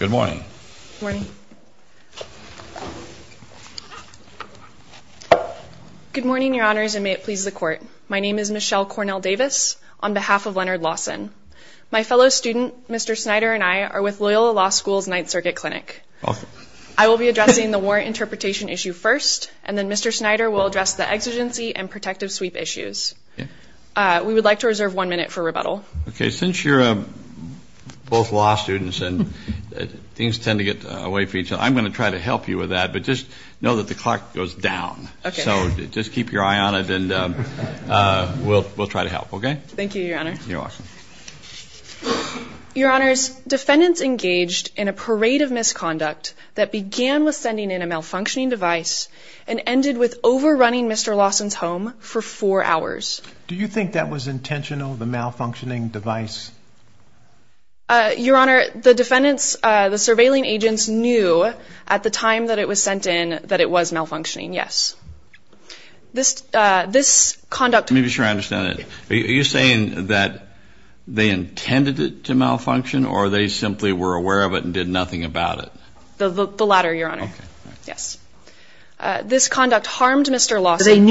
Good morning. Good morning. Good morning, Your Honors, and may it please the Court. My name is Michelle Cornell Davis, on behalf of Leonard Lawson. My fellow student, Mr. Snyder, and I are with Loyola Law School's Ninth Circuit Clinic. I will be addressing the warrant interpretation issue first, and then Mr. Snyder will address the exigency and protective sweep issues. We would like to reserve one minute for rebuttal. Okay, since you're both law students and things tend to get away from each other, I'm going to try to help you with that, but just know that the clock goes down. Okay. So just keep your eye on it, and we'll try to help, okay? Thank you, Your Honor. You're welcome. Your Honors, defendants engaged in a parade of misconduct that began with sending in a malfunctioning device and ended with overrunning Mr. Lawson's home for four hours. Do you think that was intentional, the malfunctioning device? Your Honor, the defendants, the surveilling agents, knew at the time that it was sent in that it was malfunctioning, yes. This conduct... Let me be sure I understand it. Are you saying that they intended it to malfunction, or they simply were aware of it and did nothing about it? The latter, Your Honor. Okay. Yes. This conduct harmed Mr. Lawson...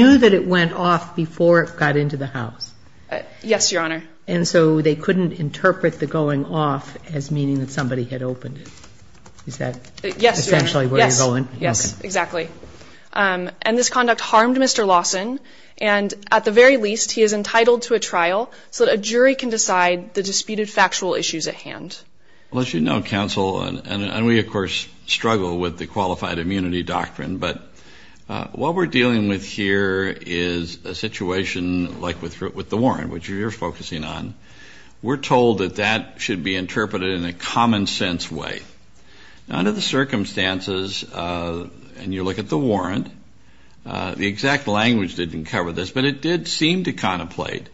Yes, Your Honor. And so they couldn't interpret the going off as meaning that somebody had opened it. Is that essentially where you're going? Yes, Your Honor. Yes, exactly. And this conduct harmed Mr. Lawson, and at the very least, he is entitled to a trial so that a jury can decide the disputed factual issues at hand. Well, as you know, counsel, and we, of course, struggle with the qualified immunity doctrine, but what we're dealing with here is a situation like with the warrant, which you're focusing on. We're told that that should be interpreted in a common-sense way. Under the circumstances, and you look at the warrant, the exact language didn't cover this, but it did seem to contemplate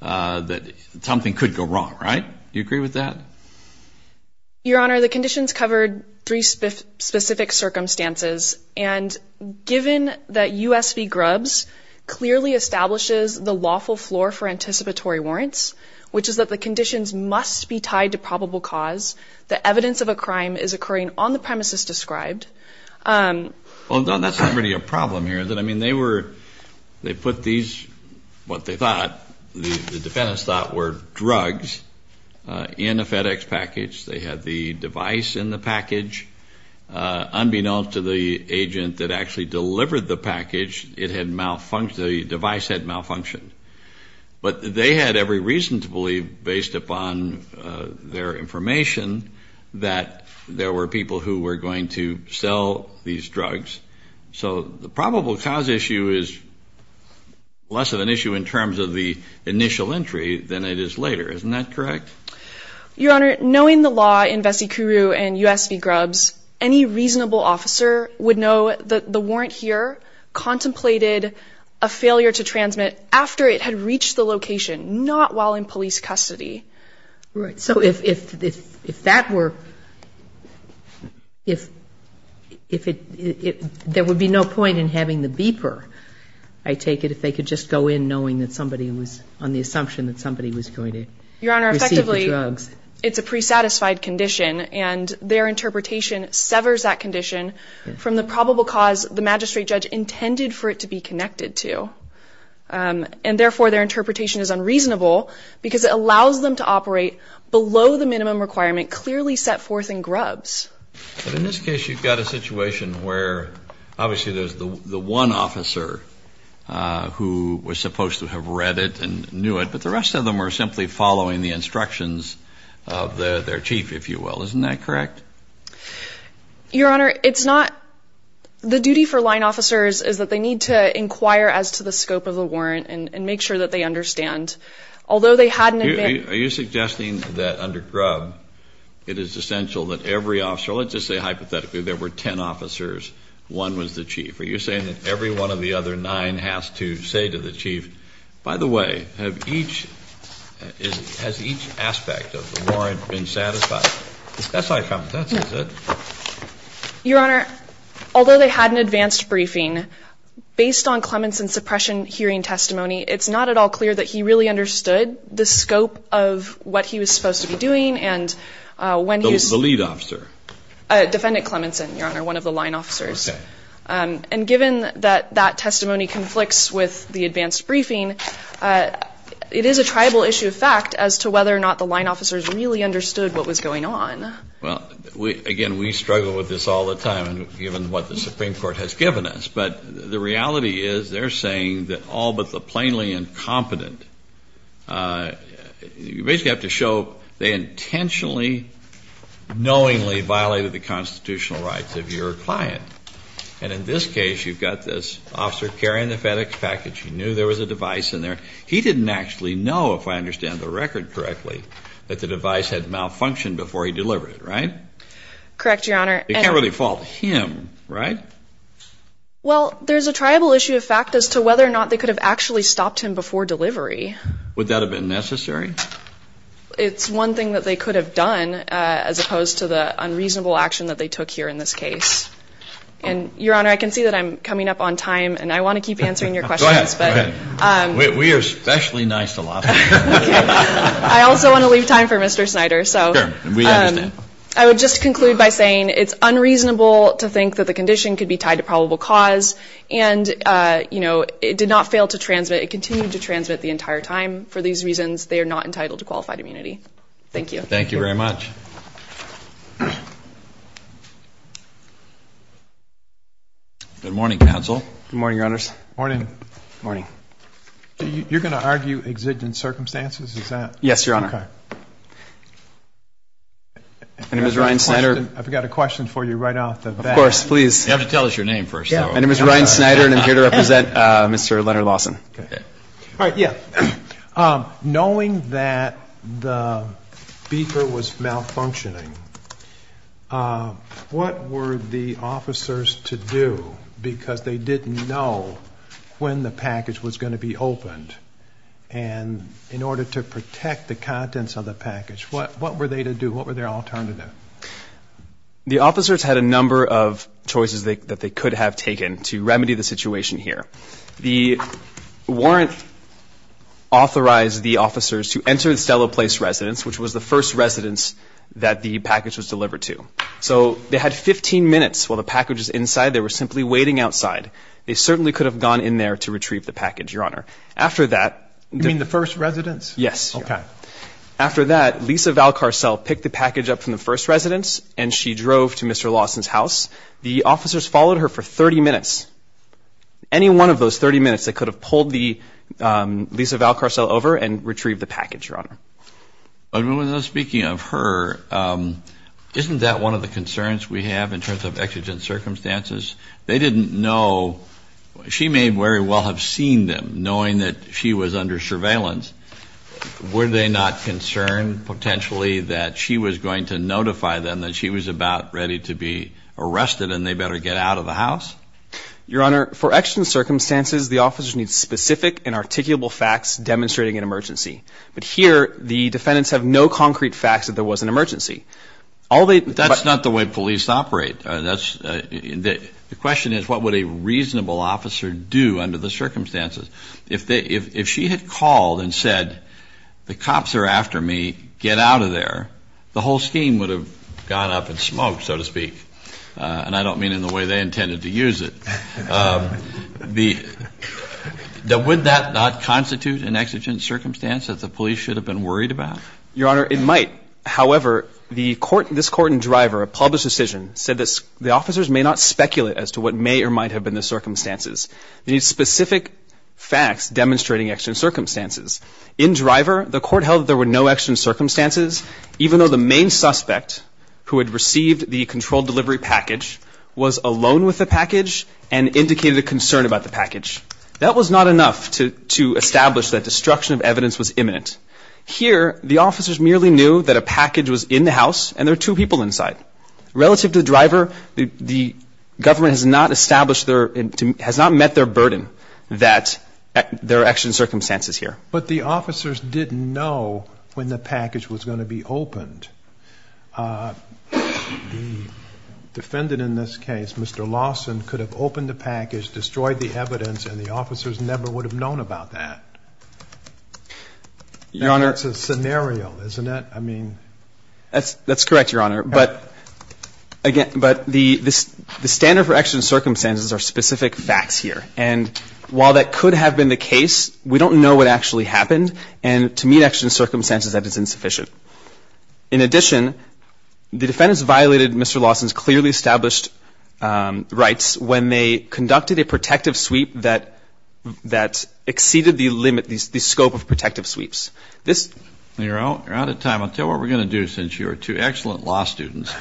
that something could go wrong, right? Do you agree with that? Your Honor, the conditions covered three specific circumstances, and given that U.S. v. Grubbs clearly establishes the lawful floor for anticipatory warrants, which is that the conditions must be tied to probable cause, the evidence of a crime is occurring on the premises described. Well, that's not really a problem here, is it? I mean, they put these, what the defendants thought were drugs, in a FedEx package. They had the device in the package. Unbeknownst to the agent that actually delivered the package, the device had malfunctioned. But they had every reason to believe, based upon their information, that there were people who were going to sell these drugs. So the probable cause issue is less of an issue in terms of the initial entry than it is later. Isn't that correct? Your Honor, knowing the law in Vessi-Kuru and U.S. v. Grubbs, any reasonable officer would know that the warrant here contemplated a failure to transmit after it had reached the location, not while in police custody. Right. So if that were, if it, there would be no point in having the beeper, I take it, if they could just go in knowing that somebody was, on the assumption that somebody was going to receive the drugs. Your Honor, effectively, it's a pre-satisfied condition, and their interpretation severs that condition from the probable cause the magistrate judge intended for it to be connected to. And therefore, their interpretation is unreasonable, because it allows them to operate below the minimum requirement clearly set forth in Grubbs. But in this case, you've got a situation where, obviously, there's the one officer who was supposed to have read it and knew it, but the rest of them were simply following the instructions of their chief, if you will. Isn't that correct? Your Honor, it's not. The duty for line officers is that they need to inquire as to the scope of the warrant and make sure that they understand. Although they had an advantage. Are you suggesting that under Grubbs, it is essential that every officer, let's just say hypothetically there were ten officers, one was the chief. Are you saying that every one of the other nine has to say to the chief, by the way, has each aspect of the warrant been satisfied? That's high competence, is it? Your Honor, although they had an advanced briefing, based on Clementson's suppression hearing testimony, it's not at all clear that he really understood the scope of what he was supposed to be doing. The lead officer? Defendant Clementson, Your Honor, one of the line officers. Okay. And given that that testimony conflicts with the advanced briefing, it is a tribal issue of fact as to whether or not the line officers really understood what was going on. Well, again, we struggle with this all the time, given what the Supreme Court has given us. But the reality is they're saying that all but the plainly incompetent, you basically have to show they intentionally, knowingly violated the constitutional rights of your client. And in this case, you've got this officer carrying the FedEx package. He knew there was a device in there. He didn't actually know, if I understand the record correctly, that the device had malfunctioned before he delivered it, right? Correct, Your Honor. You can't really fault him, right? Well, there's a tribal issue of fact as to whether or not they could have actually stopped him before delivery. Would that have been necessary? It's one thing that they could have done, as opposed to the unreasonable action that they took here in this case. And, Your Honor, I can see that I'm coming up on time, and I want to keep answering your questions. Go ahead. We are especially nice to lots of people. I also want to leave time for Mr. Snyder. Sure. We understand. I would just conclude by saying it's unreasonable to think that the condition could be tied to probable cause. And, you know, it did not fail to transmit. It continued to transmit the entire time. For these reasons, they are not entitled to qualified immunity. Thank you. Thank you very much. Good morning, counsel. Good morning, Your Honors. Morning. Morning. You're going to argue exigent circumstances? Is that? Yes, Your Honor. Okay. My name is Ryan Snyder. I've got a question for you right off the bat. Of course. Please. You have to tell us your name first. My name is Ryan Snyder, and I'm here to represent Mr. Leonard Lawson. All right. Yeah. Knowing that the beeper was malfunctioning, what were the officers to do? Because they didn't know when the package was going to be opened. And in order to protect the contents of the package, what were they to do? What were their alternatives? The officers had a number of choices that they could have taken to remedy the situation here. The warrant authorized the officers to enter the Stelloplace residence, which was the first residence that the package was delivered to. So they had 15 minutes while the package was inside. They were simply waiting outside. They certainly could have gone in there to retrieve the package, Your Honor. After that... You mean the first residence? Yes. Okay. After that, Lisa Valcarcel picked the package up from the first residence, and she drove to Mr. Lawson's house. The officers followed her for 30 minutes. Any one of those 30 minutes, they could have pulled Lisa Valcarcel over and retrieved the package, Your Honor. Speaking of her, isn't that one of the concerns we have in terms of exigent circumstances? They didn't know. She may very well have seen them, knowing that she was under surveillance. Were they not concerned potentially that she was going to notify them that she was about ready to be arrested and they better get out of the house? Your Honor, for exigent circumstances, the officers need specific and articulable facts demonstrating an emergency. But here, the defendants have no concrete facts that there was an emergency. That's not the way police operate. The question is, what would a reasonable officer do under the circumstances? If she had called and said, the cops are after me, get out of there, the whole scheme would have gone up in smoke, so to speak. And I don't mean in the way they intended to use it. Would that not constitute an exigent circumstance that the police should have been worried about? Your Honor, it might. However, this court and driver, a public decision, said that the officers may not speculate as to what may or might have been the circumstances. They need specific facts demonstrating exigent circumstances. In driver, the court held that there were no exigent circumstances, even though the main suspect who had received the controlled delivery package was alone with the package and indicated a concern about the package. That was not enough to establish that destruction of evidence was imminent. Here, the officers merely knew that a package was in the house and there were two people inside. Relative to the driver, the government has not established their, has not met their burden that there are exigent circumstances here. But the officers didn't know when the package was going to be opened. The defendant in this case, Mr. Lawson, could have opened the package, destroyed the evidence, and the officers never would have known about that. Your Honor. That's a scenario, isn't it? I mean. That's correct, Your Honor. But the standard for exigent circumstances are specific facts here. And while that could have been the case, we don't know what actually happened. And to meet exigent circumstances, that is insufficient. In addition, the defendants violated Mr. Lawson's clearly established rights when they conducted a protective sweep that exceeded the limit, the scope of protective sweeps. You're out of time. I'll tell you what we're going to do, since you are two excellent law students.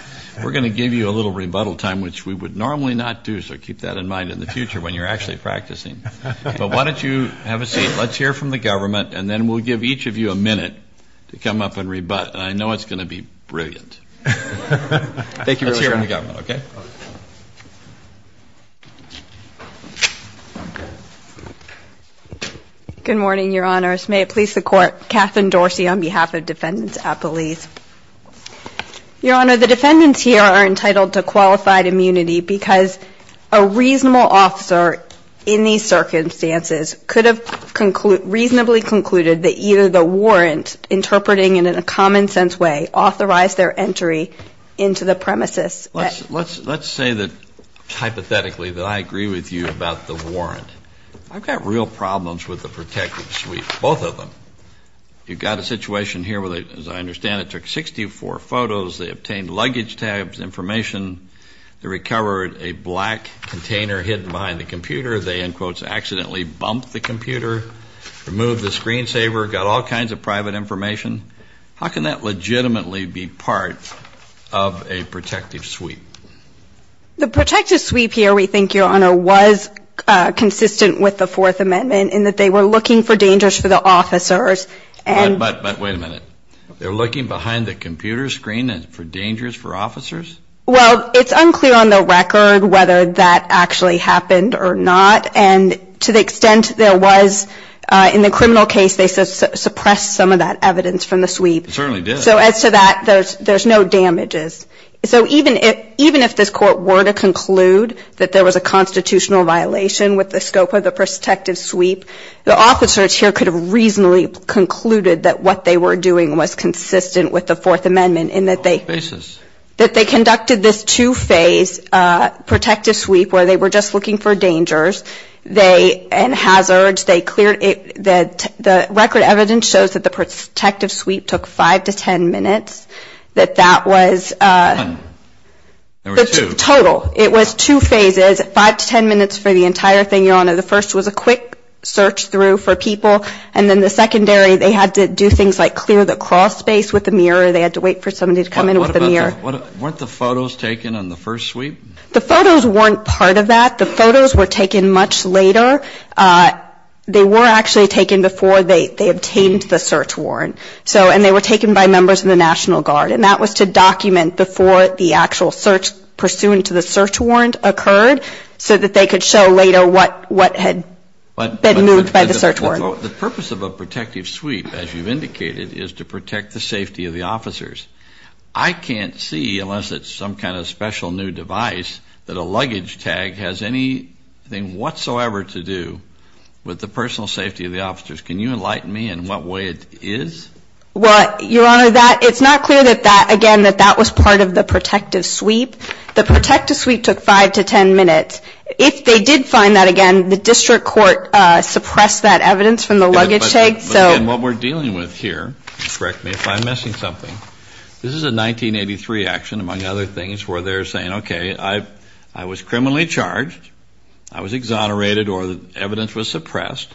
We're going to give you a little rebuttal time, which we would normally not do, so keep that in mind in the future when you're actually practicing. But why don't you have a seat. Let's hear from the government, and then we'll give each of you a minute to come up and rebut. And I know it's going to be brilliant. Thank you, Your Honor. Let's hear from the government, okay? Good morning, Your Honors. May it please the Court, Kathryn Dorsey on behalf of Defendants at Police. Your Honor, the defendants here are entitled to qualified immunity because a reasonable officer in these circumstances could have reasonably concluded that either the warrant, interpreting it in a common-sense way, authorized their entry into the premises. Let's say that hypothetically that I agree with you about the warrant. I've got real problems with the protective sweep, both of them. You've got a situation here where they, as I understand it, took 64 photos. They obtained luggage tabs, information. They recovered a black container hidden behind the computer. They, in quotes, accidentally bumped the computer, removed the screensaver, got all kinds of private information. How can that legitimately be part of a protective sweep? The protective sweep here, we think, Your Honor, was consistent with the Fourth Amendment in that they were looking for dangers for the officers. But wait a minute. They were looking behind the computer screen for dangers for officers? Well, it's unclear on the record whether that actually happened or not. And to the extent there was in the criminal case, they suppressed some of that evidence from the sweep. They certainly did. So as to that, there's no damages. So even if this Court were to conclude that there was a constitutional violation with the scope of the protective sweep, the officers here could have reasonably concluded that what they were doing was consistent with the Fourth Amendment in that they conducted this two-phase protective sweep where they were just looking for dangers and hazards. They cleared it. The record evidence shows that the protective sweep took 5 to 10 minutes, that that was total. It was two phases, 5 to 10 minutes for the entire thing, Your Honor. The first was a quick search through for people. And then the secondary, they had to do things like clear the crawl space with a mirror. They had to wait for somebody to come in with a mirror. Weren't the photos taken on the first sweep? The photos weren't part of that. The photos were taken much later. They were actually taken before they obtained the search warrant. And they were taken by members of the National Guard. And that was to document before the actual search pursuant to the search warrant occurred so that they could show later what had been moved by the search warrant. The purpose of a protective sweep, as you've indicated, is to protect the safety of the officers. I can't see, unless it's some kind of special new device, that a luggage tag has anything whatsoever to do with the personal safety of the officers. Can you enlighten me in what way it is? Well, Your Honor, it's not clear, again, that that was part of the protective sweep. The protective sweep took 5 to 10 minutes. If they did find that, again, the district court suppressed that evidence from the luggage tag. But again, what we're dealing with here, correct me if I'm missing something, this is a 1983 action, among other things, where they're saying, okay, I was criminally charged, I was exonerated or the evidence was suppressed.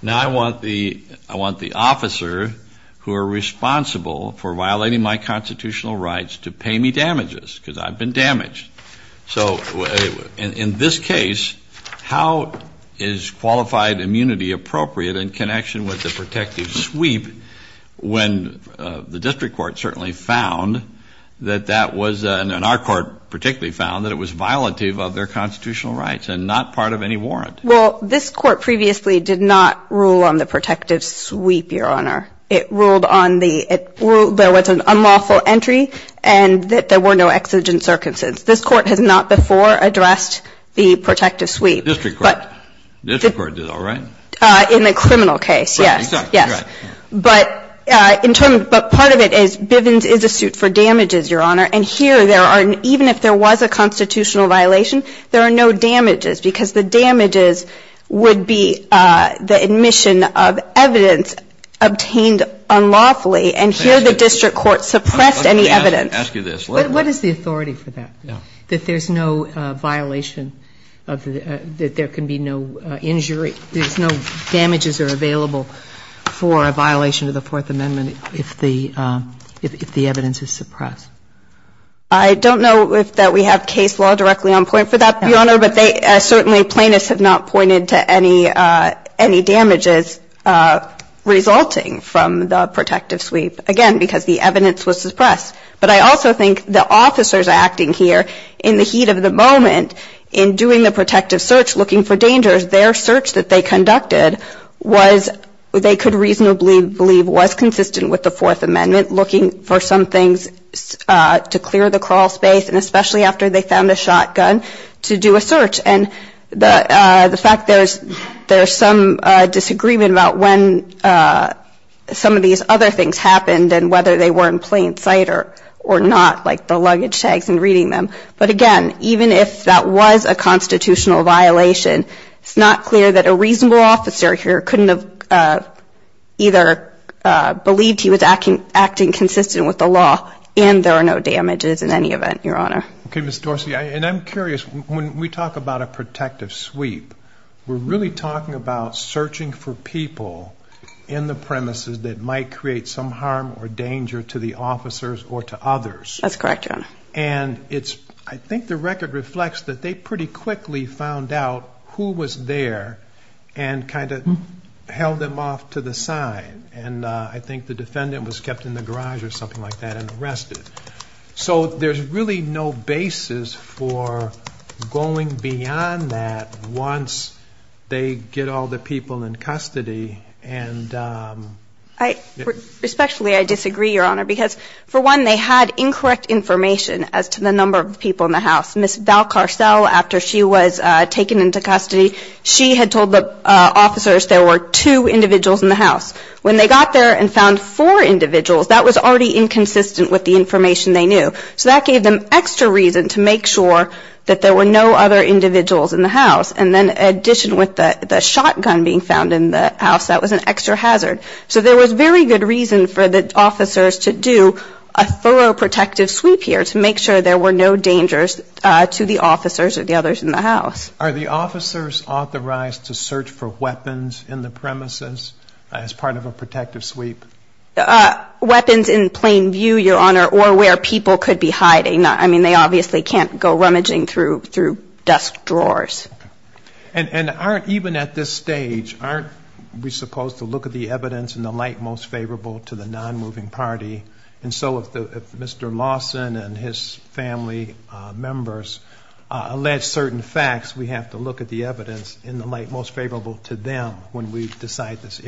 Now I want the officer who are responsible for violating my constitutional rights to pay me damages because I've been damaged. So in this case, how is qualified immunity appropriate in connection with the protective sweep when the district court certainly found that that was, and our court particularly found, that it was violative of their constitutional rights and not part of any warrant? Well, this Court previously did not rule on the protective sweep, Your Honor. It ruled on the ‑‑ there was an unlawful entry and that there were no exigent circumstances. This Court has not before addressed the protective sweep. District court. District court did all right. In the criminal case, yes. Right, exactly. Yes. But in terms ‑‑ but part of it is Bivens is a suit for damages, Your Honor, and here there are ‑‑ even if there was a constitutional violation, there are no damages because the damages would be the admission of evidence obtained unlawfully and here the district court suppressed any evidence. Let me ask you this. What is the authority for that, that there's no violation of the ‑‑ that there can be no injury, there's no damages are available for a violation of the Fourth Amendment if the evidence is suppressed? I don't know if that we have case law directly on point for that, Your Honor, but they ‑‑ certainly plaintiffs have not pointed to any damages resulting from the protective sweep. Again, because the evidence was suppressed. But I also think the officers acting here in the heat of the moment in doing the protective search looking for dangers, their search that they conducted was ‑‑ they could reasonably believe was consistent with the Fourth Amendment, looking for some things to clear the crawl space and especially after they found a shotgun to do a search. And the fact there's some disagreement about when some of these other things happened and whether they were in plain sight or not, like the luggage tags and reading them. But again, even if that was a constitutional violation, it's not clear that a reasonable officer here couldn't have either believed he was acting consistent with the law and there are no damages in any event, Your Honor. Okay, Ms. Dorsey. And I'm curious, when we talk about a protective sweep, we're really talking about searching for people in the premises that might create some harm or danger to the officers or to others. That's correct, Your Honor. And it's ‑‑ I think the record reflects that they pretty quickly found out who was there and kind of held them off to the side. And I think the defendant was kept in the garage or something like that and arrested. So there's really no basis for going beyond that once they get all the people in custody and ‑‑ Respectfully, I disagree, Your Honor, because for one, they had incorrect information as to the number of people in the house. Ms. Valcarcel, after she was taken into custody, she had told the officers there were two individuals in the house. When they got there and found four individuals, that was already inconsistent with the information they knew. So that gave them extra reason to make sure that there were no other individuals in the house. And then in addition with the shotgun being found in the house, that was an extra hazard. So there was very good reason for the officers to do a thorough protective sweep here to make sure there were no dangers to the officers or the others in the house. Are the officers authorized to search for weapons in the premises as part of a protective sweep? Weapons in plain view, Your Honor, or where people could be hiding. I mean, they obviously can't go rummaging through desk drawers. And even at this stage, aren't we supposed to look at the evidence in the light most favorable to the nonmoving party? And so if Mr. Lawson and his family members allege certain facts, we have to look at the evidence in the light most favorable to them when we decide this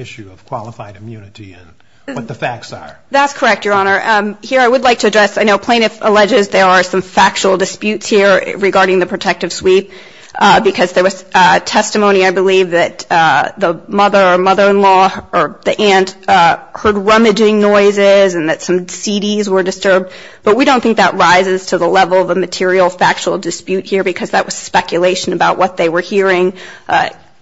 what the facts are. That's correct, Your Honor. Here I would like to address, I know plaintiff alleges there are some factual disputes here regarding the protective sweep because there was testimony, I believe, that the mother or mother-in-law or the aunt heard rummaging noises and that some CDs were disturbed. But we don't think that rises to the level of a material factual dispute here because that was speculation about what they were hearing.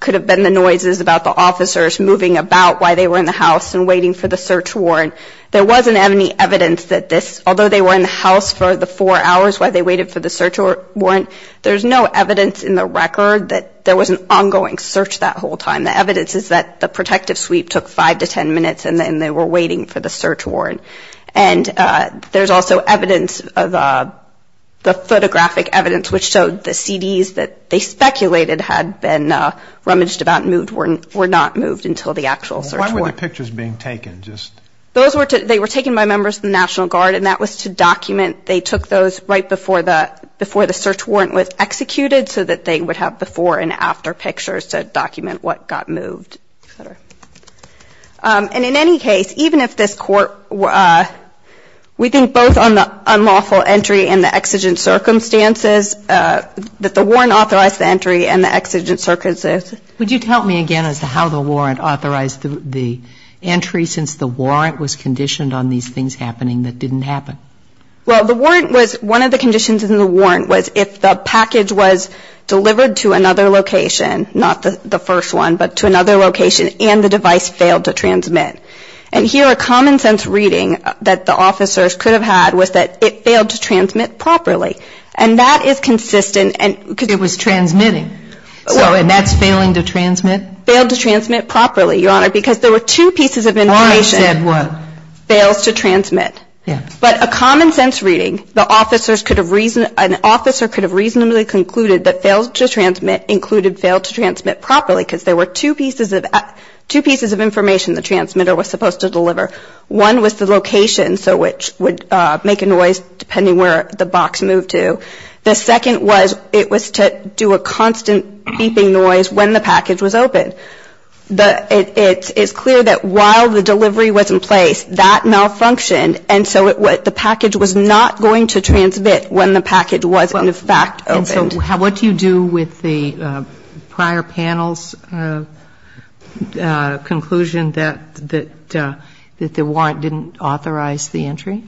Could have been the noises about the officers moving about while they were in the house waiting for the search warrant. There wasn't any evidence that this, although they were in the house for the four hours while they waited for the search warrant, there's no evidence in the record that there was an ongoing search that whole time. The evidence is that the protective sweep took five to ten minutes and they were waiting for the search warrant. And there's also evidence of the photographic evidence which showed the CDs that they speculated had been rummaged about and were not moved until the actual search warrant. Which were the pictures being taken? Those were taken by members of the National Guard and that was to document they took those right before the search warrant was executed so that they would have before and after pictures to document what got moved. And in any case, even if this court, we think both on the unlawful entry and the exigent circumstances that the warrant authorized the entry and the exigent circumstances. Would you tell me again as to how the warrant authorized the entry since the warrant was conditioned on these things happening that didn't happen? Well, the warrant was, one of the conditions in the warrant was if the package was delivered to another location, not the first one, but to another location and the device failed to transmit. And here a common sense reading that the officers could have had was that it failed to transmit properly. And that is consistent and It was transmitting. And that's failing to transmit? Failed to transmit properly, Your Honor, because there were two pieces of information. The warrant said what? Fails to transmit. Yes. But a common sense reading, the officers could have reasoned, an officer could have reasonably concluded that fails to transmit included failed to transmit properly because there were two pieces of information the transmitter was supposed to deliver. One was the location, so which would make a noise depending where the box moved to. The second was it was to do a constant beeping noise when the package was open. It's clear that while the delivery was in place, that malfunctioned, and so the package was not going to transmit when the package was in fact opened. And so what do you do with the prior panel's conclusion that the warrant didn't authorize the entry?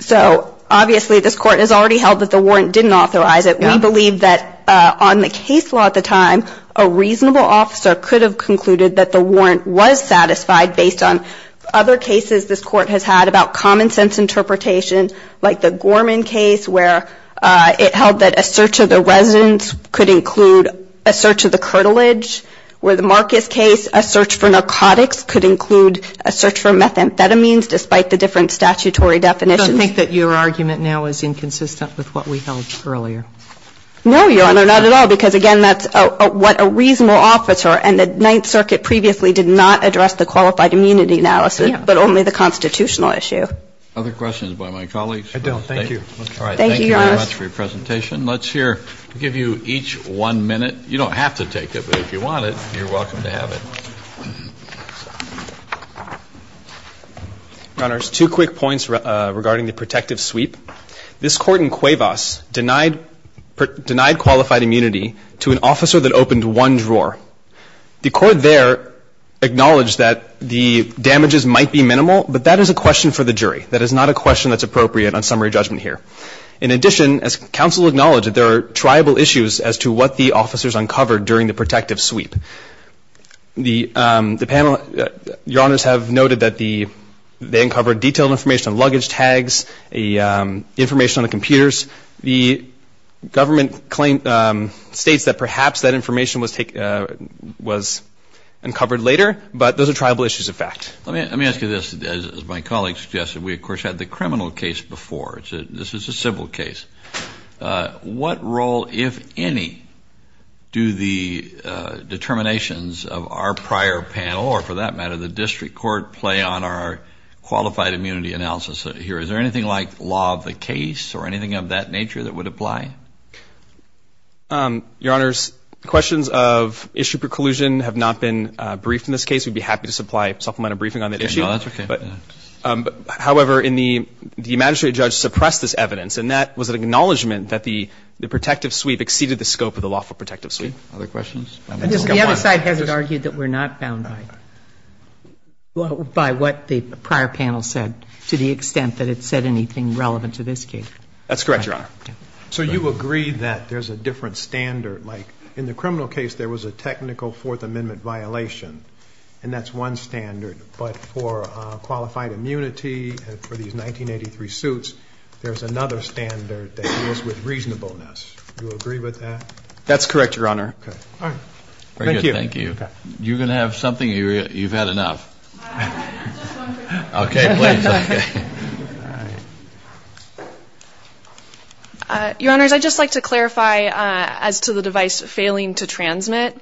So obviously this Court has already held that the warrant didn't authorize it. We believe that on the case law at the time, a reasonable officer could have concluded that the warrant was satisfied based on other cases this Court has had about common sense interpretation, like the Gorman case where it held that a search of the residence could include a search of the curtilage, where the Marcus case, a search for narcotics could include a search for methamphetamines despite the different statutory definitions. So I think that your argument now is inconsistent with what we held earlier. No, Your Honor, not at all, because, again, that's what a reasonable officer and the Ninth Circuit previously did not address the qualified immunity analysis but only the constitutional issue. Other questions by my colleagues? I don't. Thank you. Thank you, Your Honor. All right. Thank you very much for your presentation. Let's here give you each one minute. You don't have to take it, but if you want it, you're welcome to have it. Your Honors, two quick points regarding the protective sweep. This Court in Cuevas denied qualified immunity to an officer that opened one drawer. The Court there acknowledged that the damages might be minimal, but that is a question for the jury. That is not a question that's appropriate on summary judgment here. In addition, as counsel acknowledged, there are triable issues as to what the officers uncovered during the protective sweep. The panel, Your Honors, have noted that they uncovered detailed information on luggage tags, information on the computers. The government states that perhaps that information was uncovered later, but those are triable issues of fact. Let me ask you this. As my colleague suggested, we, of course, had the criminal case before. This is a civil case. What role, if any, do the determinations of our prior panel or, for that matter, the district court play on our qualified immunity analysis here? Is there anything like law of the case or anything of that nature that would apply? Your Honors, questions of issue preclusion have not been briefed in this case. We'd be happy to supply a supplement of briefing on that issue. No, that's okay. However, the magistrate judge suppressed this evidence, and that was an acknowledgment that the protective sweep exceeded the scope of the lawful protective sweep. Other questions? The other side has it argued that we're not bound by what the prior panel said, to the extent that it said anything relevant to this case. That's correct, Your Honor. So you agree that there's a different standard. Like in the criminal case, there was a technical Fourth Amendment violation, and that's one standard. But for qualified immunity and for these 1983 suits, there's another standard that deals with reasonableness. Do you agree with that? That's correct, Your Honor. Okay. All right. Thank you. Thank you. You're going to have something? You've had enough. Okay, please. Your Honors, I'd just like to clarify as to the device failing to transmit.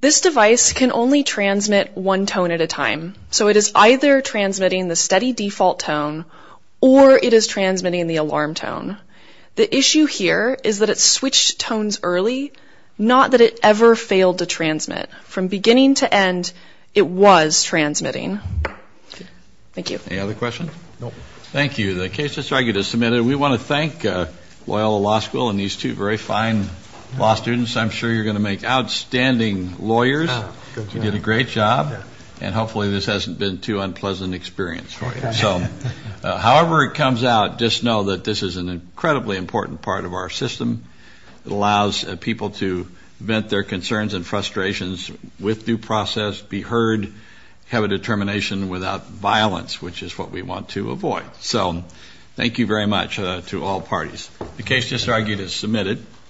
This device can only transmit one tone at a time. So it is either transmitting the steady default tone, or it is transmitting the alarm tone. The issue here is that it switched tones early, not that it ever failed to transmit. From beginning to end, it was transmitting. Okay. Thank you. Any other questions? No. Thank you. The case is argued as submitted. We want to thank Loyola Law School and these two very fine law students. I'm sure you're going to make outstanding lawyers. You did a great job. And hopefully this hasn't been too unpleasant an experience for you. So however it comes out, just know that this is an incredibly important part of our system. It allows people to vent their concerns and frustrations with due process, be heard, So thank you very much to all parties. The case is argued as submitted.